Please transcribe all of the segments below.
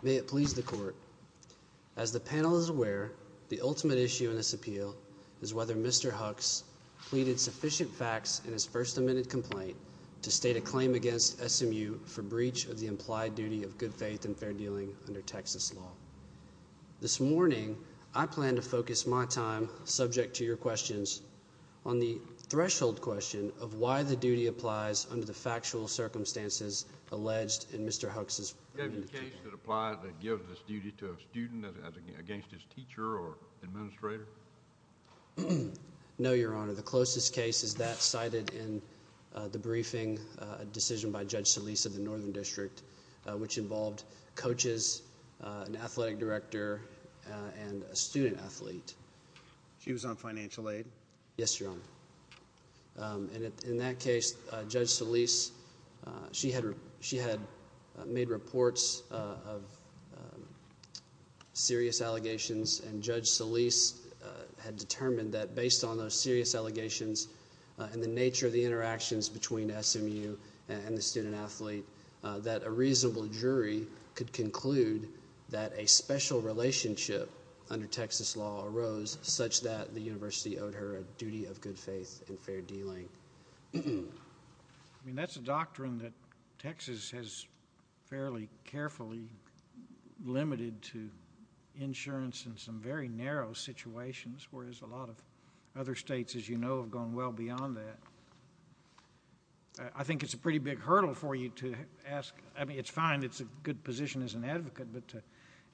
May it please the court, as the panel is aware, the ultimate issue in this appeal is whether Mr. Hux pleaded sufficient facts in his first amended complaint to state a claim against SMU for breach of the implied duty of good faith and fair dealing under Texas law. This morning, I plan to focus my time, subject to your questions, on the threshold question of why the duty applies under the factual circumstances alleged in Mr. Hux's first amended complaint. Is there a case that applies that gives this duty to a student against his teacher or administrator? No Your Honor. The closest case is that cited in the briefing decision by Judge Solis of the Northern District which involved coaches, an athletic director, and a student athlete. She was on financial aid? Yes, Your Honor. In that case, Judge Solis, she had made reports of serious allegations and Judge Solis had determined that based on those serious allegations and the nature of the interactions between a reasonable jury could conclude that a special relationship under Texas law arose such that the university owed her a duty of good faith and fair dealing. I mean, that's a doctrine that Texas has fairly carefully limited to insurance in some very narrow situations whereas a lot of other states, as you know, have gone well beyond that. I think it's a pretty big hurdle for you to ask, I mean, it's fine, it's a good position as an advocate, but to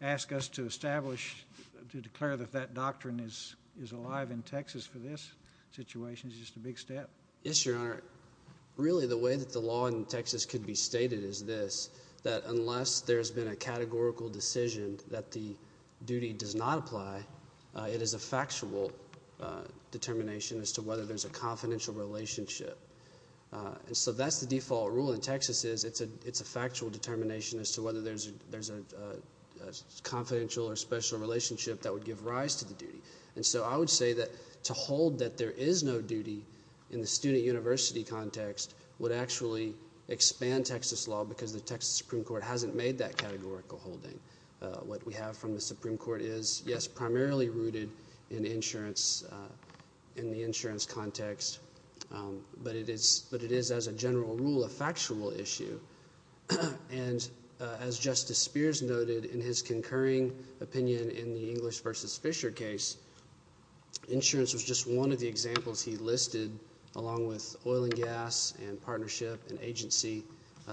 ask us to establish, to declare that that doctrine is alive in Texas for this situation is just a big step. Yes, Your Honor. Really, the way that the law in Texas could be stated is this, that unless there's been a categorical decision that the duty does not apply, it is a factual determination as to whether there's a confidential relationship. So that's the default rule in Texas is it's a factual determination as to whether there's a confidential or special relationship that would give rise to the duty. And so I would say that to hold that there is no duty in the student university context would actually expand Texas law because the Texas Supreme Court hasn't made that categorical holding. What we have from the Supreme Court is, yes, primarily rooted in insurance, in the insurance context, but it is as a general rule a factual issue. And as Justice Spears noted in his concurring opinion in the English v. Fisher case, insurance was just one of the examples he listed along with oil and gas and partnership and agency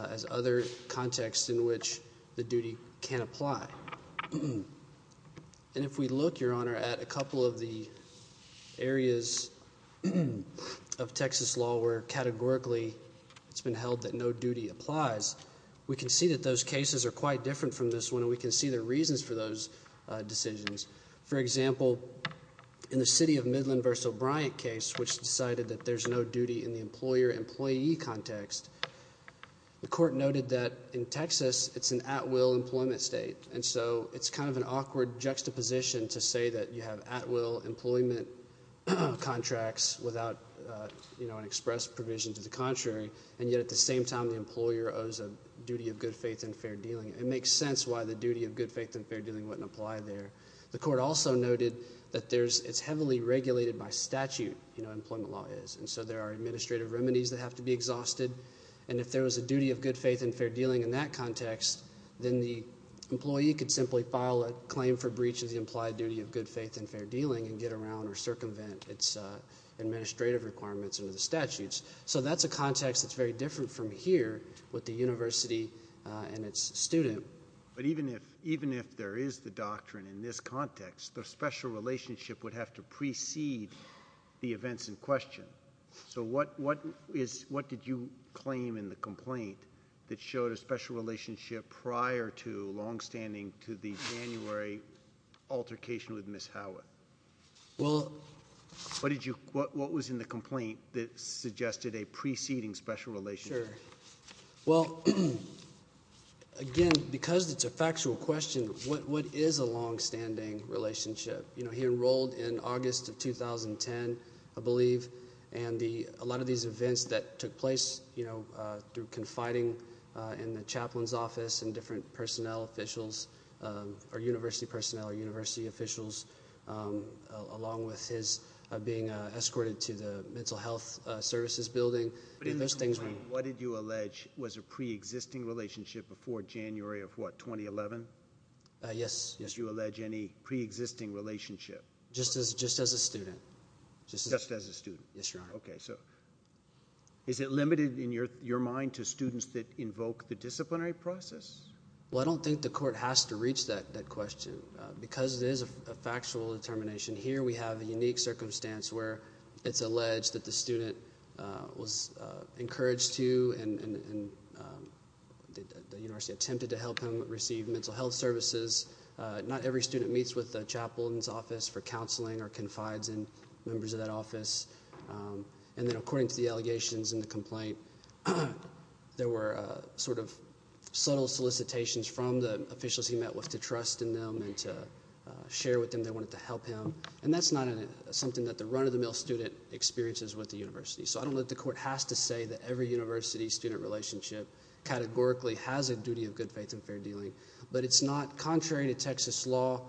as other contexts in which the duty can apply. And if we look, Your Honor, at a couple of the areas of Texas law where categorically it's been held that no duty applies, we can see that those cases are quite different from this one and we can see the reasons for those decisions. For example, in the city of Midland v. O'Brien case, which decided that there's no duty in the employer-employee context, the court noted that in Texas it's an at-will employment state. And so it's kind of an awkward juxtaposition to say that you have at-will employment contracts without an express provision to the contrary, and yet at the same time the employer owes a duty of good faith and fair dealing. It makes sense why the duty of good faith and fair dealing wouldn't apply there. The court also noted that it's heavily regulated by statute, employment law is, and so there are administrative remedies that have to be exhausted. And if there was a duty of good faith and fair dealing in that context, then the employee could simply file a claim for breach of the implied duty of good faith and fair dealing and get around or circumvent its administrative requirements under the statutes. So that's a context that's very different from here with the university and its student. But even if there is the doctrine in this context, the special relationship would have to precede the events in question. So what did you claim in the complaint that showed a special relationship prior to longstanding to the January altercation with Ms. Howa? What was in the complaint that suggested a preceding special relationship? Well, again, because it's a factual question, what is a longstanding relationship? He enrolled in August of 2010, I believe, and a lot of these events that took place through confiding in the chaplain's office and different personnel officials or university personnel or university officials, along with his being escorted to the mental health services building. But in the complaint, what did you allege was a preexisting relationship before January of what, 2011? Yes, yes. What did you allege any preexisting relationship? Just as a student. Just as a student? Yes, Your Honor. Okay. So is it limited in your mind to students that invoke the disciplinary process? Well, I don't think the court has to reach that question because it is a factual determination. Here we have a unique circumstance where it's alleged that the student was encouraged to and the university attempted to help him receive mental health services. Not every student meets with the chaplain's office for counseling or confides in members of that office. And then according to the allegations in the complaint, there were sort of subtle solicitations from the officials he met with to trust in them and to share with them they wanted to help him. And that's not something that the run-of-the-mill student experiences with the university. So I don't know that the court has to say that every university-student relationship categorically has a duty of good faith and fair dealing, but it's not contrary to Texas law.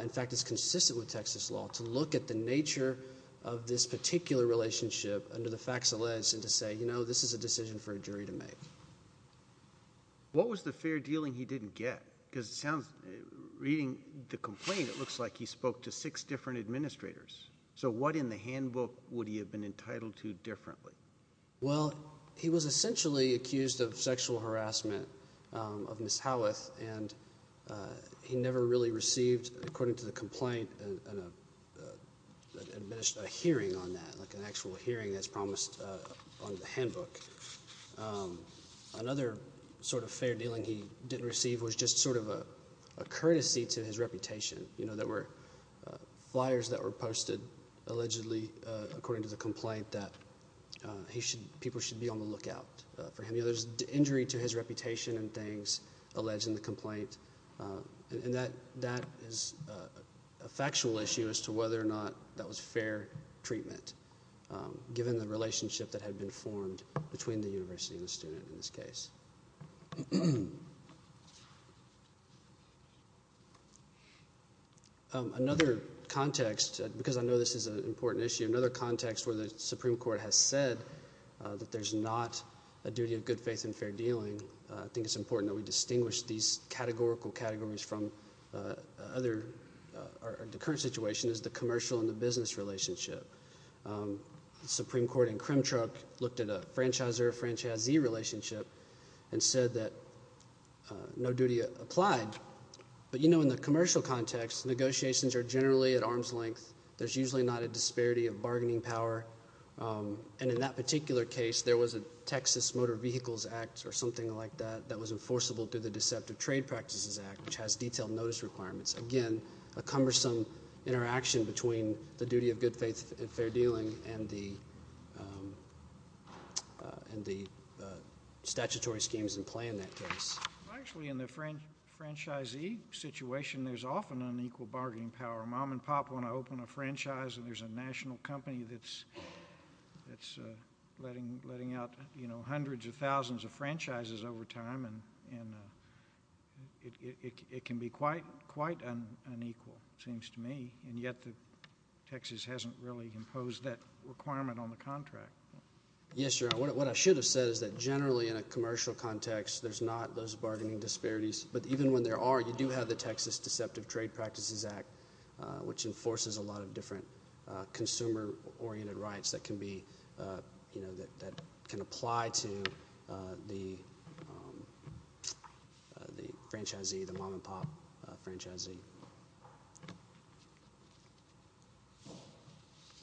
In fact, it's consistent with Texas law to look at the nature of this particular relationship under the facts alleged and to say, you know, this is a decision for a jury to make. What was the fair dealing he didn't get? Because it sounds, reading the complaint, it looks like he spoke to six different administrators. So what in the handbook would he have been entitled to differently? Well, he was essentially accused of sexual harassment of Ms. Howeth, and he never really received, according to the complaint, an administered hearing on that, like an actual hearing that's promised on the handbook. Another sort of fair dealing he didn't receive was just sort of a courtesy to his reputation. You know, there were flyers that were posted allegedly, according to the complaint, that people should be on the lookout for him. You know, there's injury to his reputation and things alleged in the complaint, and that is a factual issue as to whether or not that was fair treatment, given the relationship that had been formed between the university and the student in this case. Another context, because I know this is an important issue, another context where the Supreme Court has said that there's not a duty of good faith in fair dealing, I think it's important that we distinguish these categorical categories from other, or the current situation is the commercial and the business relationship. Supreme Court in Kremchuk looked at a franchisor-franchisee relationship and said that no duty applied. But you know, in the commercial context, negotiations are generally at arm's length. There's usually not a disparity of bargaining power, and in that particular case, there was a Texas Motor Vehicles Act, or something like that, that was enforceable through the Deceptive Trade Practices Act, which has detailed notice requirements. Again, a cumbersome interaction between the duty of good faith in fair dealing and the statutory schemes in play in that case. Actually, in the franchisee situation, there's often unequal bargaining power. Mom and Pop want to open a franchise, and there's a national company that's letting out hundreds of thousands of franchises over time, and it can be quite unequal, it seems to me, and yet Texas hasn't really imposed that requirement on the contract. Yes, Your Honor, what I should have said is that generally in a commercial context, there's not those bargaining disparities, but even when there are, you do have the Texas Deceptive Trade Practices Act, which enforces a lot of different consumer-oriented rights that can be, you know, that can apply to the franchisee, the Mom and Pop franchisee.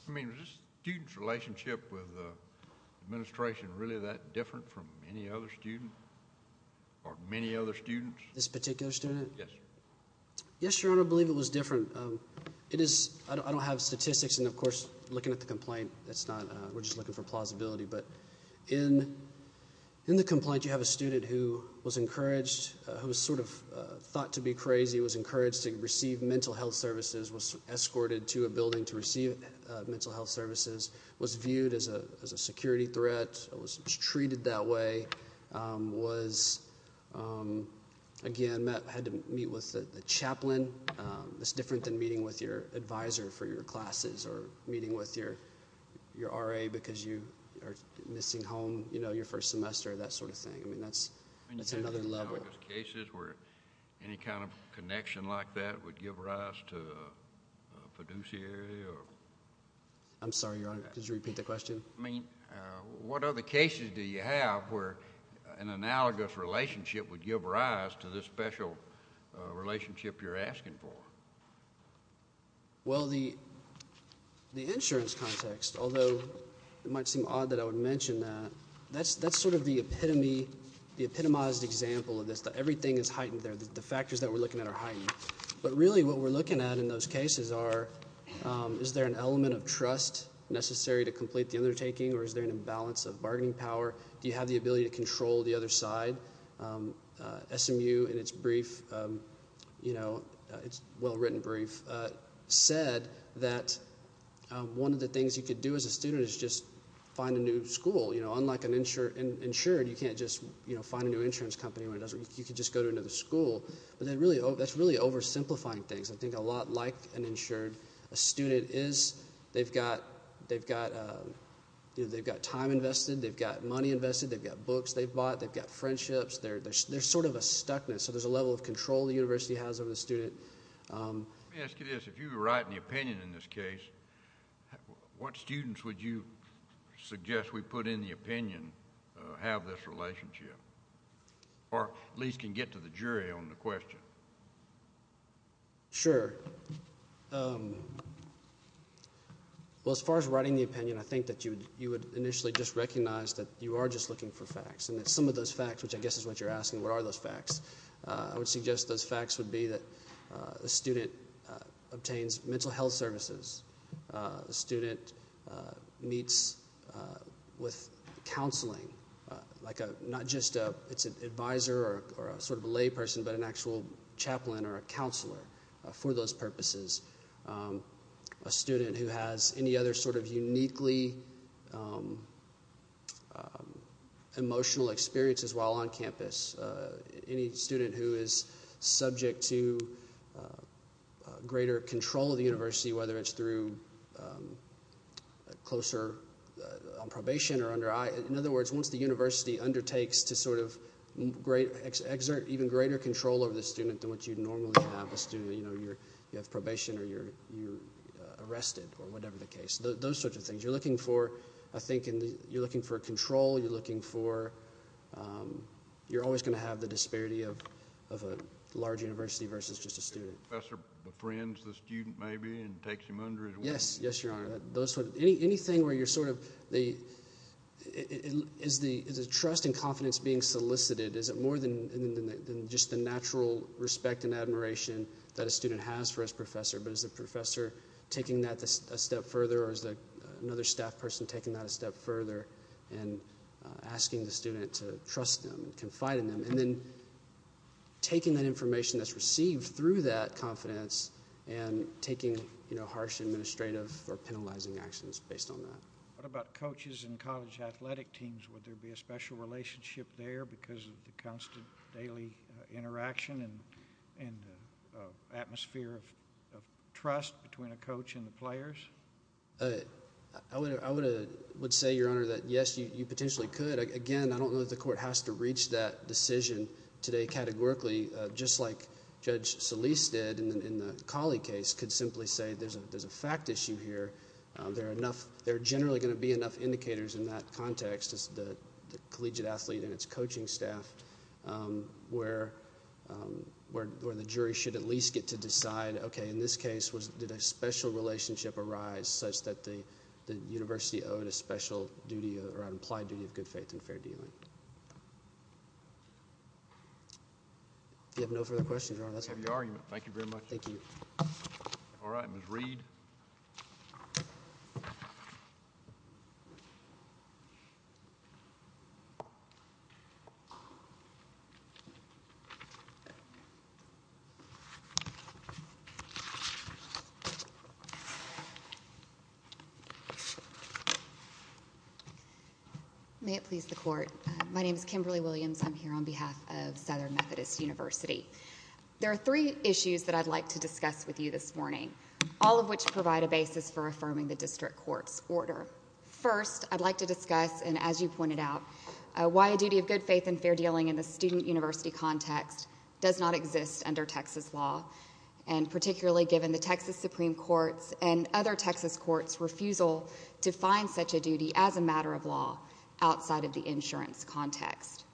I mean, is this student's relationship with the administration really that different from any other student or many other students? This particular student? Yes, Your Honor. Yes, Your Honor, I believe it was different. I don't have statistics, and of course, looking at the complaint, we're just looking for plausibility, but in the complaint, you have a student who was encouraged, who was sort of thought to be crazy, was encouraged to receive mental health services, was escorted to a building to receive mental health services, was viewed as a security threat, was treated that way, was, again, met, had to meet with the chaplain, it's different than meeting with your advisor for your classes or meeting with your RA because you are missing home, you know, your first semester, that sort of thing. I mean, that's another level. I mean, did you know if there's cases where any kind of connection like that would give rise to fiduciary or? I'm sorry, Your Honor. Could you repeat the question? I mean, what other cases do you have where an analogous relationship would give rise to this special relationship you're asking for? Well, the insurance context, although it might seem odd that I would mention that, that's sort of the epitome, the epitomized example of this, that everything is heightened there, the factors that we're looking at are heightened, but really what we're looking at in those an imbalance of bargaining power? Do you have the ability to control the other side? SMU, in its brief, you know, its well-written brief, said that one of the things you could do as a student is just find a new school, you know, unlike an insured, you can't just, you know, find a new insurance company when it doesn't, you could just go to another school, but that's really oversimplifying things. I think a lot like an insured, a student is, they've got, they've got, you know, they've got time invested, they've got money invested, they've got books they've bought, they've got friendships, they're sort of a stuckness, so there's a level of control the university has over the student. Let me ask you this, if you were writing the opinion in this case, what students would you suggest we put in the opinion have this relationship, or at least can get to the jury on the question? Sure. Well, as far as writing the opinion, I think that you would initially just recognize that you are just looking for facts, and that some of those facts, which I guess is what you're asking, what are those facts, I would suggest those facts would be that a student obtains mental health services, a student meets with counseling, like a, not just a, it's an advisor or a sort of a layperson, but an actual chaplain or a counselor for those purposes, a student who has any other sort of uniquely emotional experiences while on campus, any student who is subject to greater control of the university, whether it's through closer, on probation or under, in other words, once the university undertakes to sort of exert even greater control over the student than what you'd normally have a student, you know, you have probation or you're arrested, or whatever the case, those sorts of things. You're looking for, I think, you're looking for control, you're looking for, you're always going to have the disparity of a large university versus just a student. Professor befriends the student maybe and takes him under his wing. Yes, yes, your honor. Anything where you're sort of the, is the trust and confidence being solicited, is it more than just the natural respect and admiration that a student has for his professor, but is the professor taking that a step further or is another staff person taking that a step further and asking the student to trust them, confide in them, and then taking that information that's received through that confidence and taking, you know, harsh administrative or penalizing actions based on that? What about coaches and college athletic teams? Would there be a special relationship there because of the constant daily interaction and atmosphere of trust between a coach and the players? I would say, your honor, that yes, you potentially could. Again, I don't know that the court has to reach that decision today categorically, just like Judge Solis did in the Colley case, could simply say there's a fact issue here. There are enough, there are generally going to be enough indicators in that context, the collegiate athlete and its coaching staff, where the jury should at least get to decide, okay, in this case, did a special relationship arise such that the university owed a special duty or an implied duty of good faith and fair dealing? If you have no further questions, your honor, let's have your argument. Thank you very much. Thank you. All right. Ms. Reed. May it please the court, my name is Kimberly Williams, I'm here on behalf of Southern Methodist University. There are three issues that I'd like to discuss with you this morning, all of which provide a basis for affirming the district court's order. First, I'd like to discuss, and as you pointed out, why a duty of good faith and fair dealing in the student university context does not exist under Texas law, and particularly given the Texas Supreme Court's and other Texas courts' refusal to find such a duty as a matter of law outside of the insurance context.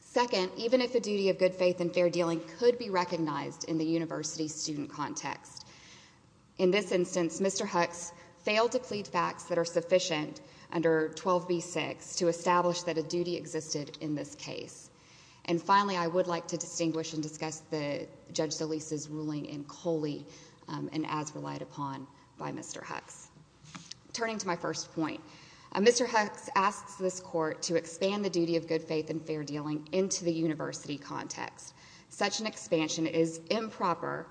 Second, even if a duty of good faith and fair dealing could be recognized in the university student context, in this instance, Mr. Hux failed to plead facts that are sufficient under 12b-6 to establish that a duty existed in this case. And finally, I would like to distinguish and discuss Judge Solis' ruling in Coley and as relied upon by Mr. Hux. Turning to my first point, Mr. Hux asks this court to expand the duty of good faith and fair dealing into the university context. Such an expansion is improper,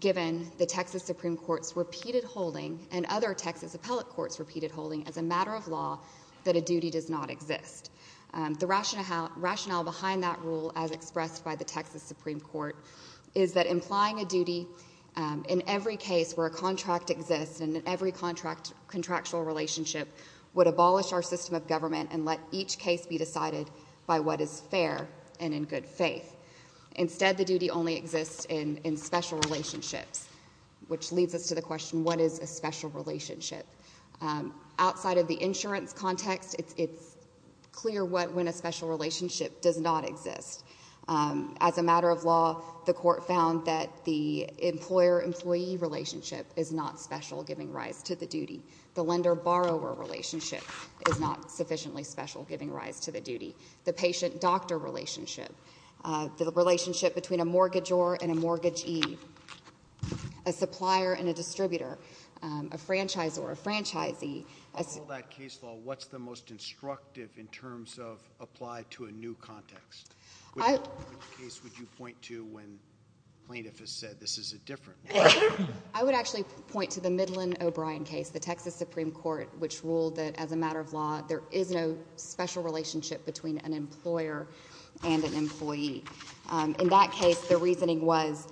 given the Texas Supreme Court's repeated holding and other Texas appellate courts' repeated holding as a matter of law that a duty does not exist. The rationale behind that rule, as expressed by the Texas Supreme Court, is that implying a duty in every case where a contract exists and in every contractual relationship would abolish our system of government and let each case be decided by what is fair and in good faith. Instead, the duty only exists in special relationships, which leads us to the question, what is a special relationship? Outside of the insurance context, it's clear when a special relationship does not exist. As a matter of law, the court found that the employer-employee relationship is not special, giving rise to the duty. The lender-borrower relationship is not sufficiently special, giving rise to the duty. The patient-doctor relationship, the relationship between a mortgagor and a mortgagee, a supplier and a distributor, a franchisor, a franchisee. Out of all that case law, what's the most instructive in terms of applied to a new context? Which case would you point to when plaintiff has said, this is a different case? I would actually point to the Midland-O'Brien case, the Texas Supreme Court, which ruled that as a matter of law, there is no special relationship between an employer and an employee. In that case, the reasoning was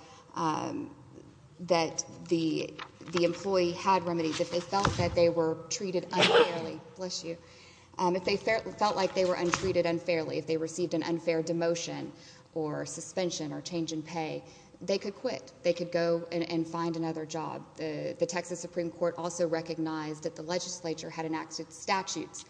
that the employee had remedies. If they felt that they were treated unfairly, if they felt like they were treated unfairly, if they received an unfair demotion or suspension or change in pay, they could quit. They could go and find another job. The Texas Supreme Court also recognized that the legislature had enacted statutes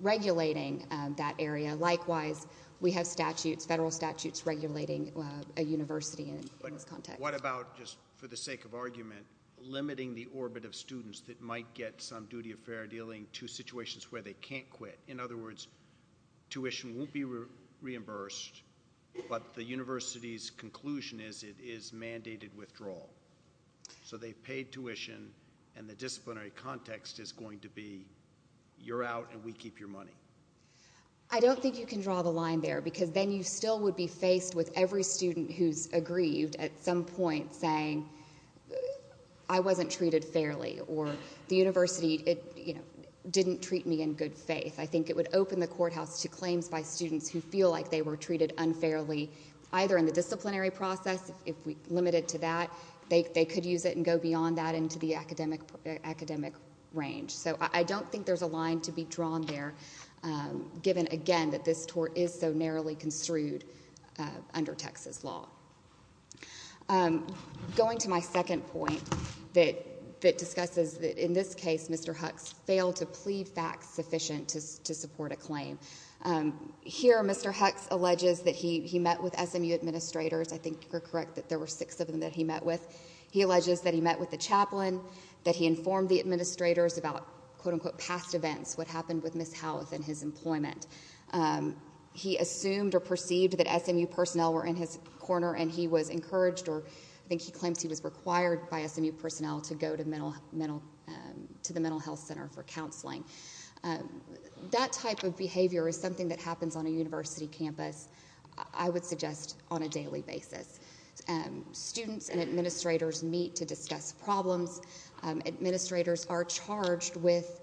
regulating that area. Likewise, we have statutes, federal statutes, regulating a university in this context. What about, just for the sake of argument, limiting the orbit of students that might get some duty of fair dealing to situations where they can't quit? In other words, tuition won't be reimbursed, but the university's conclusion is it is mandated withdrawal. They've paid tuition and the disciplinary context is going to be, you're out and we keep your money. I don't think you can draw the line there because then you still would be faced with every student who's aggrieved at some point saying, I wasn't treated fairly or the university didn't treat me in good faith. I think it would open the courthouse to claims by students who feel like they were treated unfairly, either in the disciplinary process, if we limit it to that, they could use it and go beyond that into the academic range. I don't think there's a line to be drawn there given, again, that this tort is so narrowly construed under Texas law. Going to my second point that discusses that in this case, Mr. Hux failed to plead facts sufficient to support a claim. Here Mr. Hux alleges that he met with SMU administrators. I think you're correct that there were six of them that he met with. He alleges that he met with the chaplain, that he informed the administrators about quote, unquote, past events, what happened with Ms. Howleth and his employment. He assumed or perceived that SMU personnel were in his corner and he was encouraged or I think he claims he was required by SMU personnel to go to the mental health center for counseling. That type of behavior is something that happens on a university campus, I would suggest, on a daily basis. Students and administrators meet to discuss problems. Administrators are charged with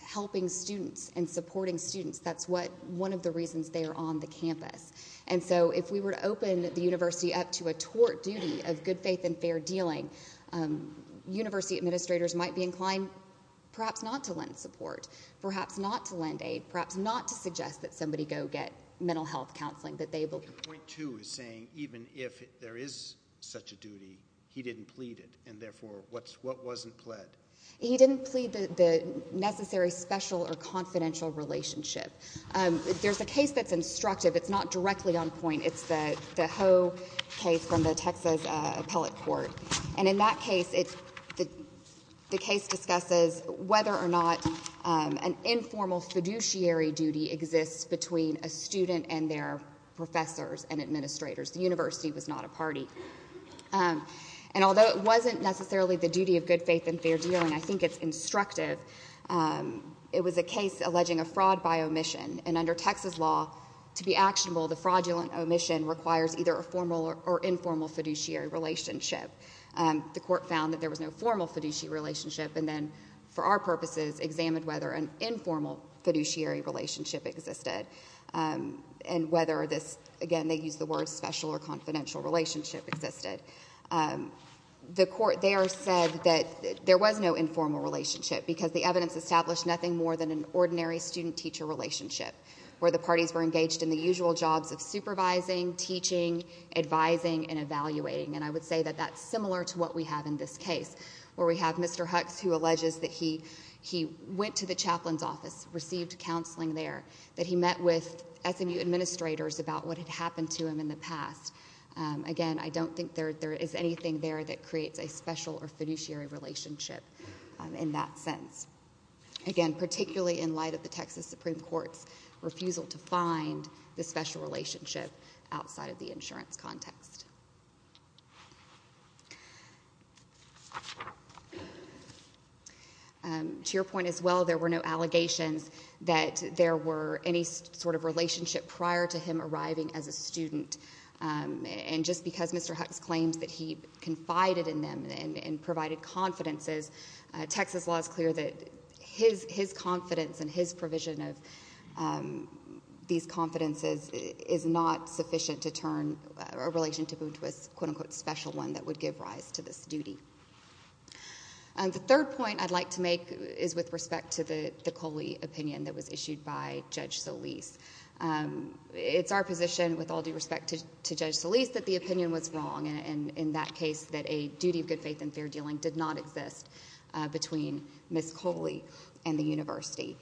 helping students and supporting students. That's one of the reasons they are on the campus. If we were to open the university up to a tort duty of good faith and fair dealing, university administrators might be inclined perhaps not to lend support, perhaps not to lend aid, perhaps not to suggest that somebody go get mental health counseling. Point two is saying even if there is such a duty, he didn't plead it and therefore what wasn't pled? He didn't plead the necessary special or confidential relationship. There's a case that's instructive. It's not directly on point. It's the Ho case from the Texas appellate court. In that case, the case discusses whether or not an informal fiduciary duty exists between a student and their professors and administrators. The university was not a party. Although it wasn't necessarily the duty of good faith and fair dealing, I think it's instructive, it was a case alleging a fraud by omission. Under Texas law, to be actionable, the fraudulent omission requires either a formal or informal fiduciary relationship. The court found that there was no formal fiduciary relationship and then, for our purposes, examined whether an informal fiduciary relationship existed and whether this, again, they used the word special or confidential relationship existed. The court there said that there was no informal relationship because the evidence established nothing more than an ordinary student-teacher relationship where the parties were engaged in the usual jobs of supervising, teaching, advising, and evaluating. I would say that that's similar to what we have in this case where we have Mr. Hux who went to the chaplain's office, received counseling there, that he met with SMU administrators about what had happened to him in the past. Again, I don't think there is anything there that creates a special or fiduciary relationship in that sense, again, particularly in light of the Texas Supreme Court's refusal to find the special relationship outside of the insurance context. To your point as well, there were no allegations that there were any sort of relationship prior to him arriving as a student. And just because Mr. Hux claims that he confided in them and provided confidences, Texas law is clear that his confidence and his provision of these confidences is not sufficient to prove to us a quote-unquote special one that would give rise to this duty. The third point I'd like to make is with respect to the Coley opinion that was issued by Judge Solis. It's our position with all due respect to Judge Solis that the opinion was wrong, and in that case that a duty of good faith and fair dealing did not exist between Ms. Coley and the university.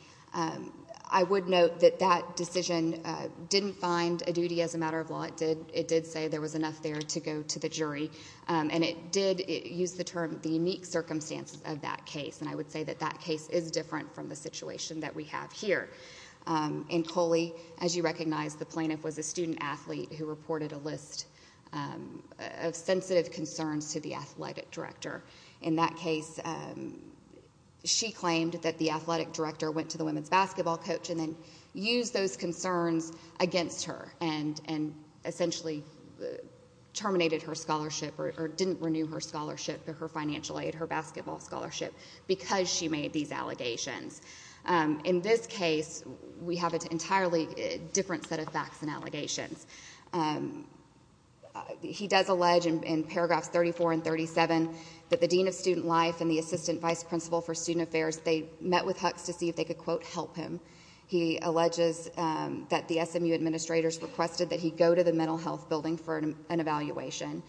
I would note that that decision didn't find a duty as a matter of law. It did say there was enough there to go to the jury, and it did use the term the unique circumstances of that case, and I would say that that case is different from the situation that we have here. In Coley, as you recognize, the plaintiff was a student athlete who reported a list of sensitive concerns to the athletic director. In that case, she claimed that the athletic director went to the women's basketball coach and then used those concerns against her and essentially terminated her scholarship or didn't renew her scholarship, her financial aid, her basketball scholarship, because she made these allegations. In this case, we have an entirely different set of facts and allegations. He does allege in paragraphs 34 and 37 that the dean of student life and the assistant vice principal for student affairs, they met with Hux to see if they could quote help him. He alleges that the SMU administrators requested that he go to the mental health building for an evaluation.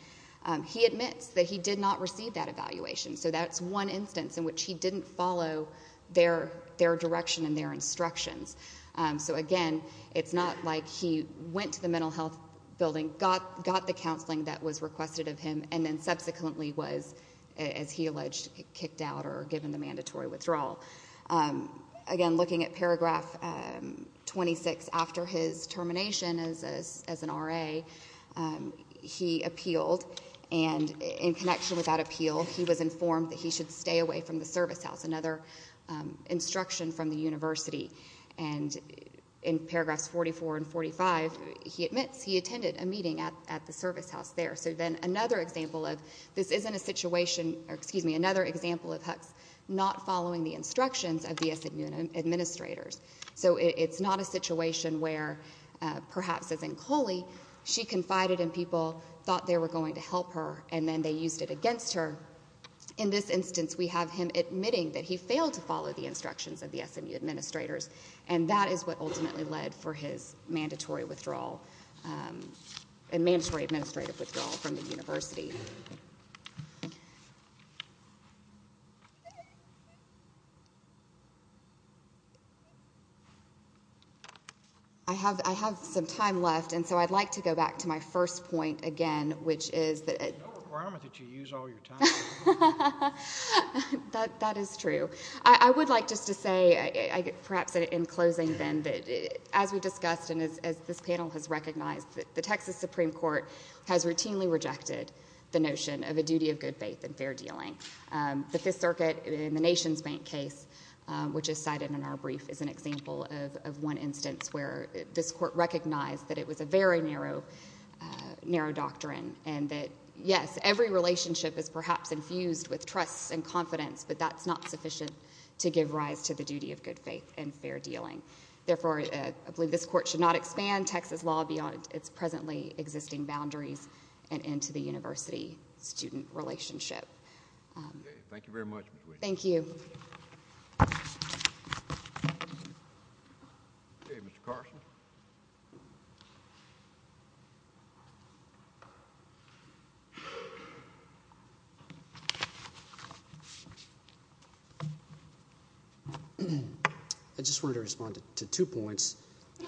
He admits that he did not receive that evaluation, so that's one instance in which he didn't follow their direction and their instructions. So again, it's not like he went to the mental health building, got the counseling that was required, or given the mandatory withdrawal. Again, looking at paragraph 26, after his termination as an RA, he appealed, and in connection with that appeal, he was informed that he should stay away from the service house, another instruction from the university. And in paragraphs 44 and 45, he admits he attended a meeting at the service house there. So then another example of, this isn't a situation, excuse me, another example of Hux not following the instructions of the SMU administrators. So it's not a situation where, perhaps as in Coley, she confided in people, thought they were going to help her, and then they used it against her. In this instance, we have him admitting that he failed to follow the instructions of the SMU administrators, and that is what ultimately led for his mandatory withdrawal, and mandatory administrative withdrawal from the university. I have some time left, and so I'd like to go back to my first point again, which is that- There's no requirement that you use all your time. That is true. I would like just to say, perhaps in closing then, that as we discussed and as this panel has recognized, the Texas Supreme Court has routinely rejected the notion of a duty of good faith and fair dealing. The Fifth Circuit in the Nation's Bank case, which is cited in our brief, is an example of one instance where this court recognized that it was a very narrow doctrine, and that, yes, every relationship is perhaps infused with trust and confidence, but that's not sufficient to give rise to the duty of good faith and fair dealing. Therefore, I believe this court should not expand Texas law beyond its presently existing boundaries and into the university-student relationship. Thank you very much, Ms. Whitten. Thank you. Okay, Mr. Carson. I just wanted to respond to two points.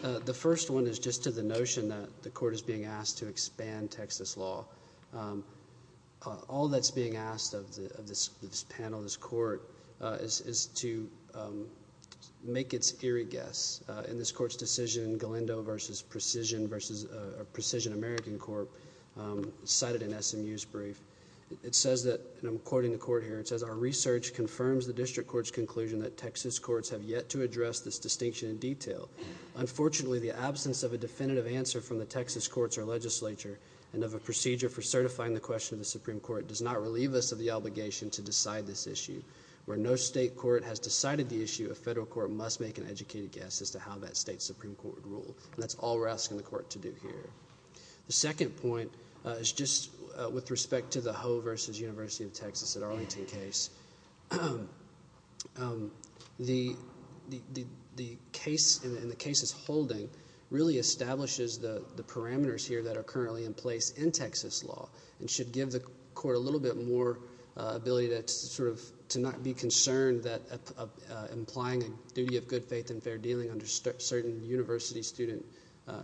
The first one is just to the notion that the court is being asked to expand Texas law. All that's being asked of this panel, this court, is to make its eerie guess, and this decision, Galindo v. Precision American Court, cited in SMU's brief. It says that, and I'm quoting the court here, it says, our research confirms the district court's conclusion that Texas courts have yet to address this distinction in detail. Unfortunately, the absence of a definitive answer from the Texas courts or legislature and of a procedure for certifying the question of the Supreme Court does not relieve us of the obligation to decide this issue. Where no state court has decided the issue, a federal court must make an educated guess as to how that state Supreme Court would rule. That's all we're asking the court to do here. The second point is just with respect to the Ho v. University of Texas at Arlington case. The case in the case it's holding really establishes the parameters here that are currently in place in Texas law and should give the court a little bit more ability to not be concerned that implying a duty of good faith and fair dealing under certain university-student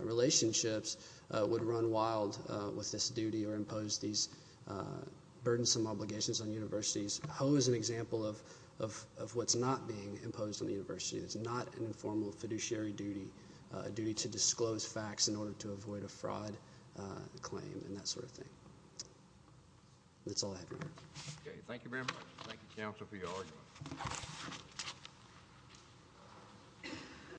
relationships would run wild with this duty or impose these burdensome obligations on universities. Ho is an example of what's not being imposed on the university. It's not an informal fiduciary duty, a duty to disclose facts in order to avoid a fraud claim and that sort of thing. That's all I have, Your Honor. Okay. Thank you, ma'am. Thank you, counsel, for your argument.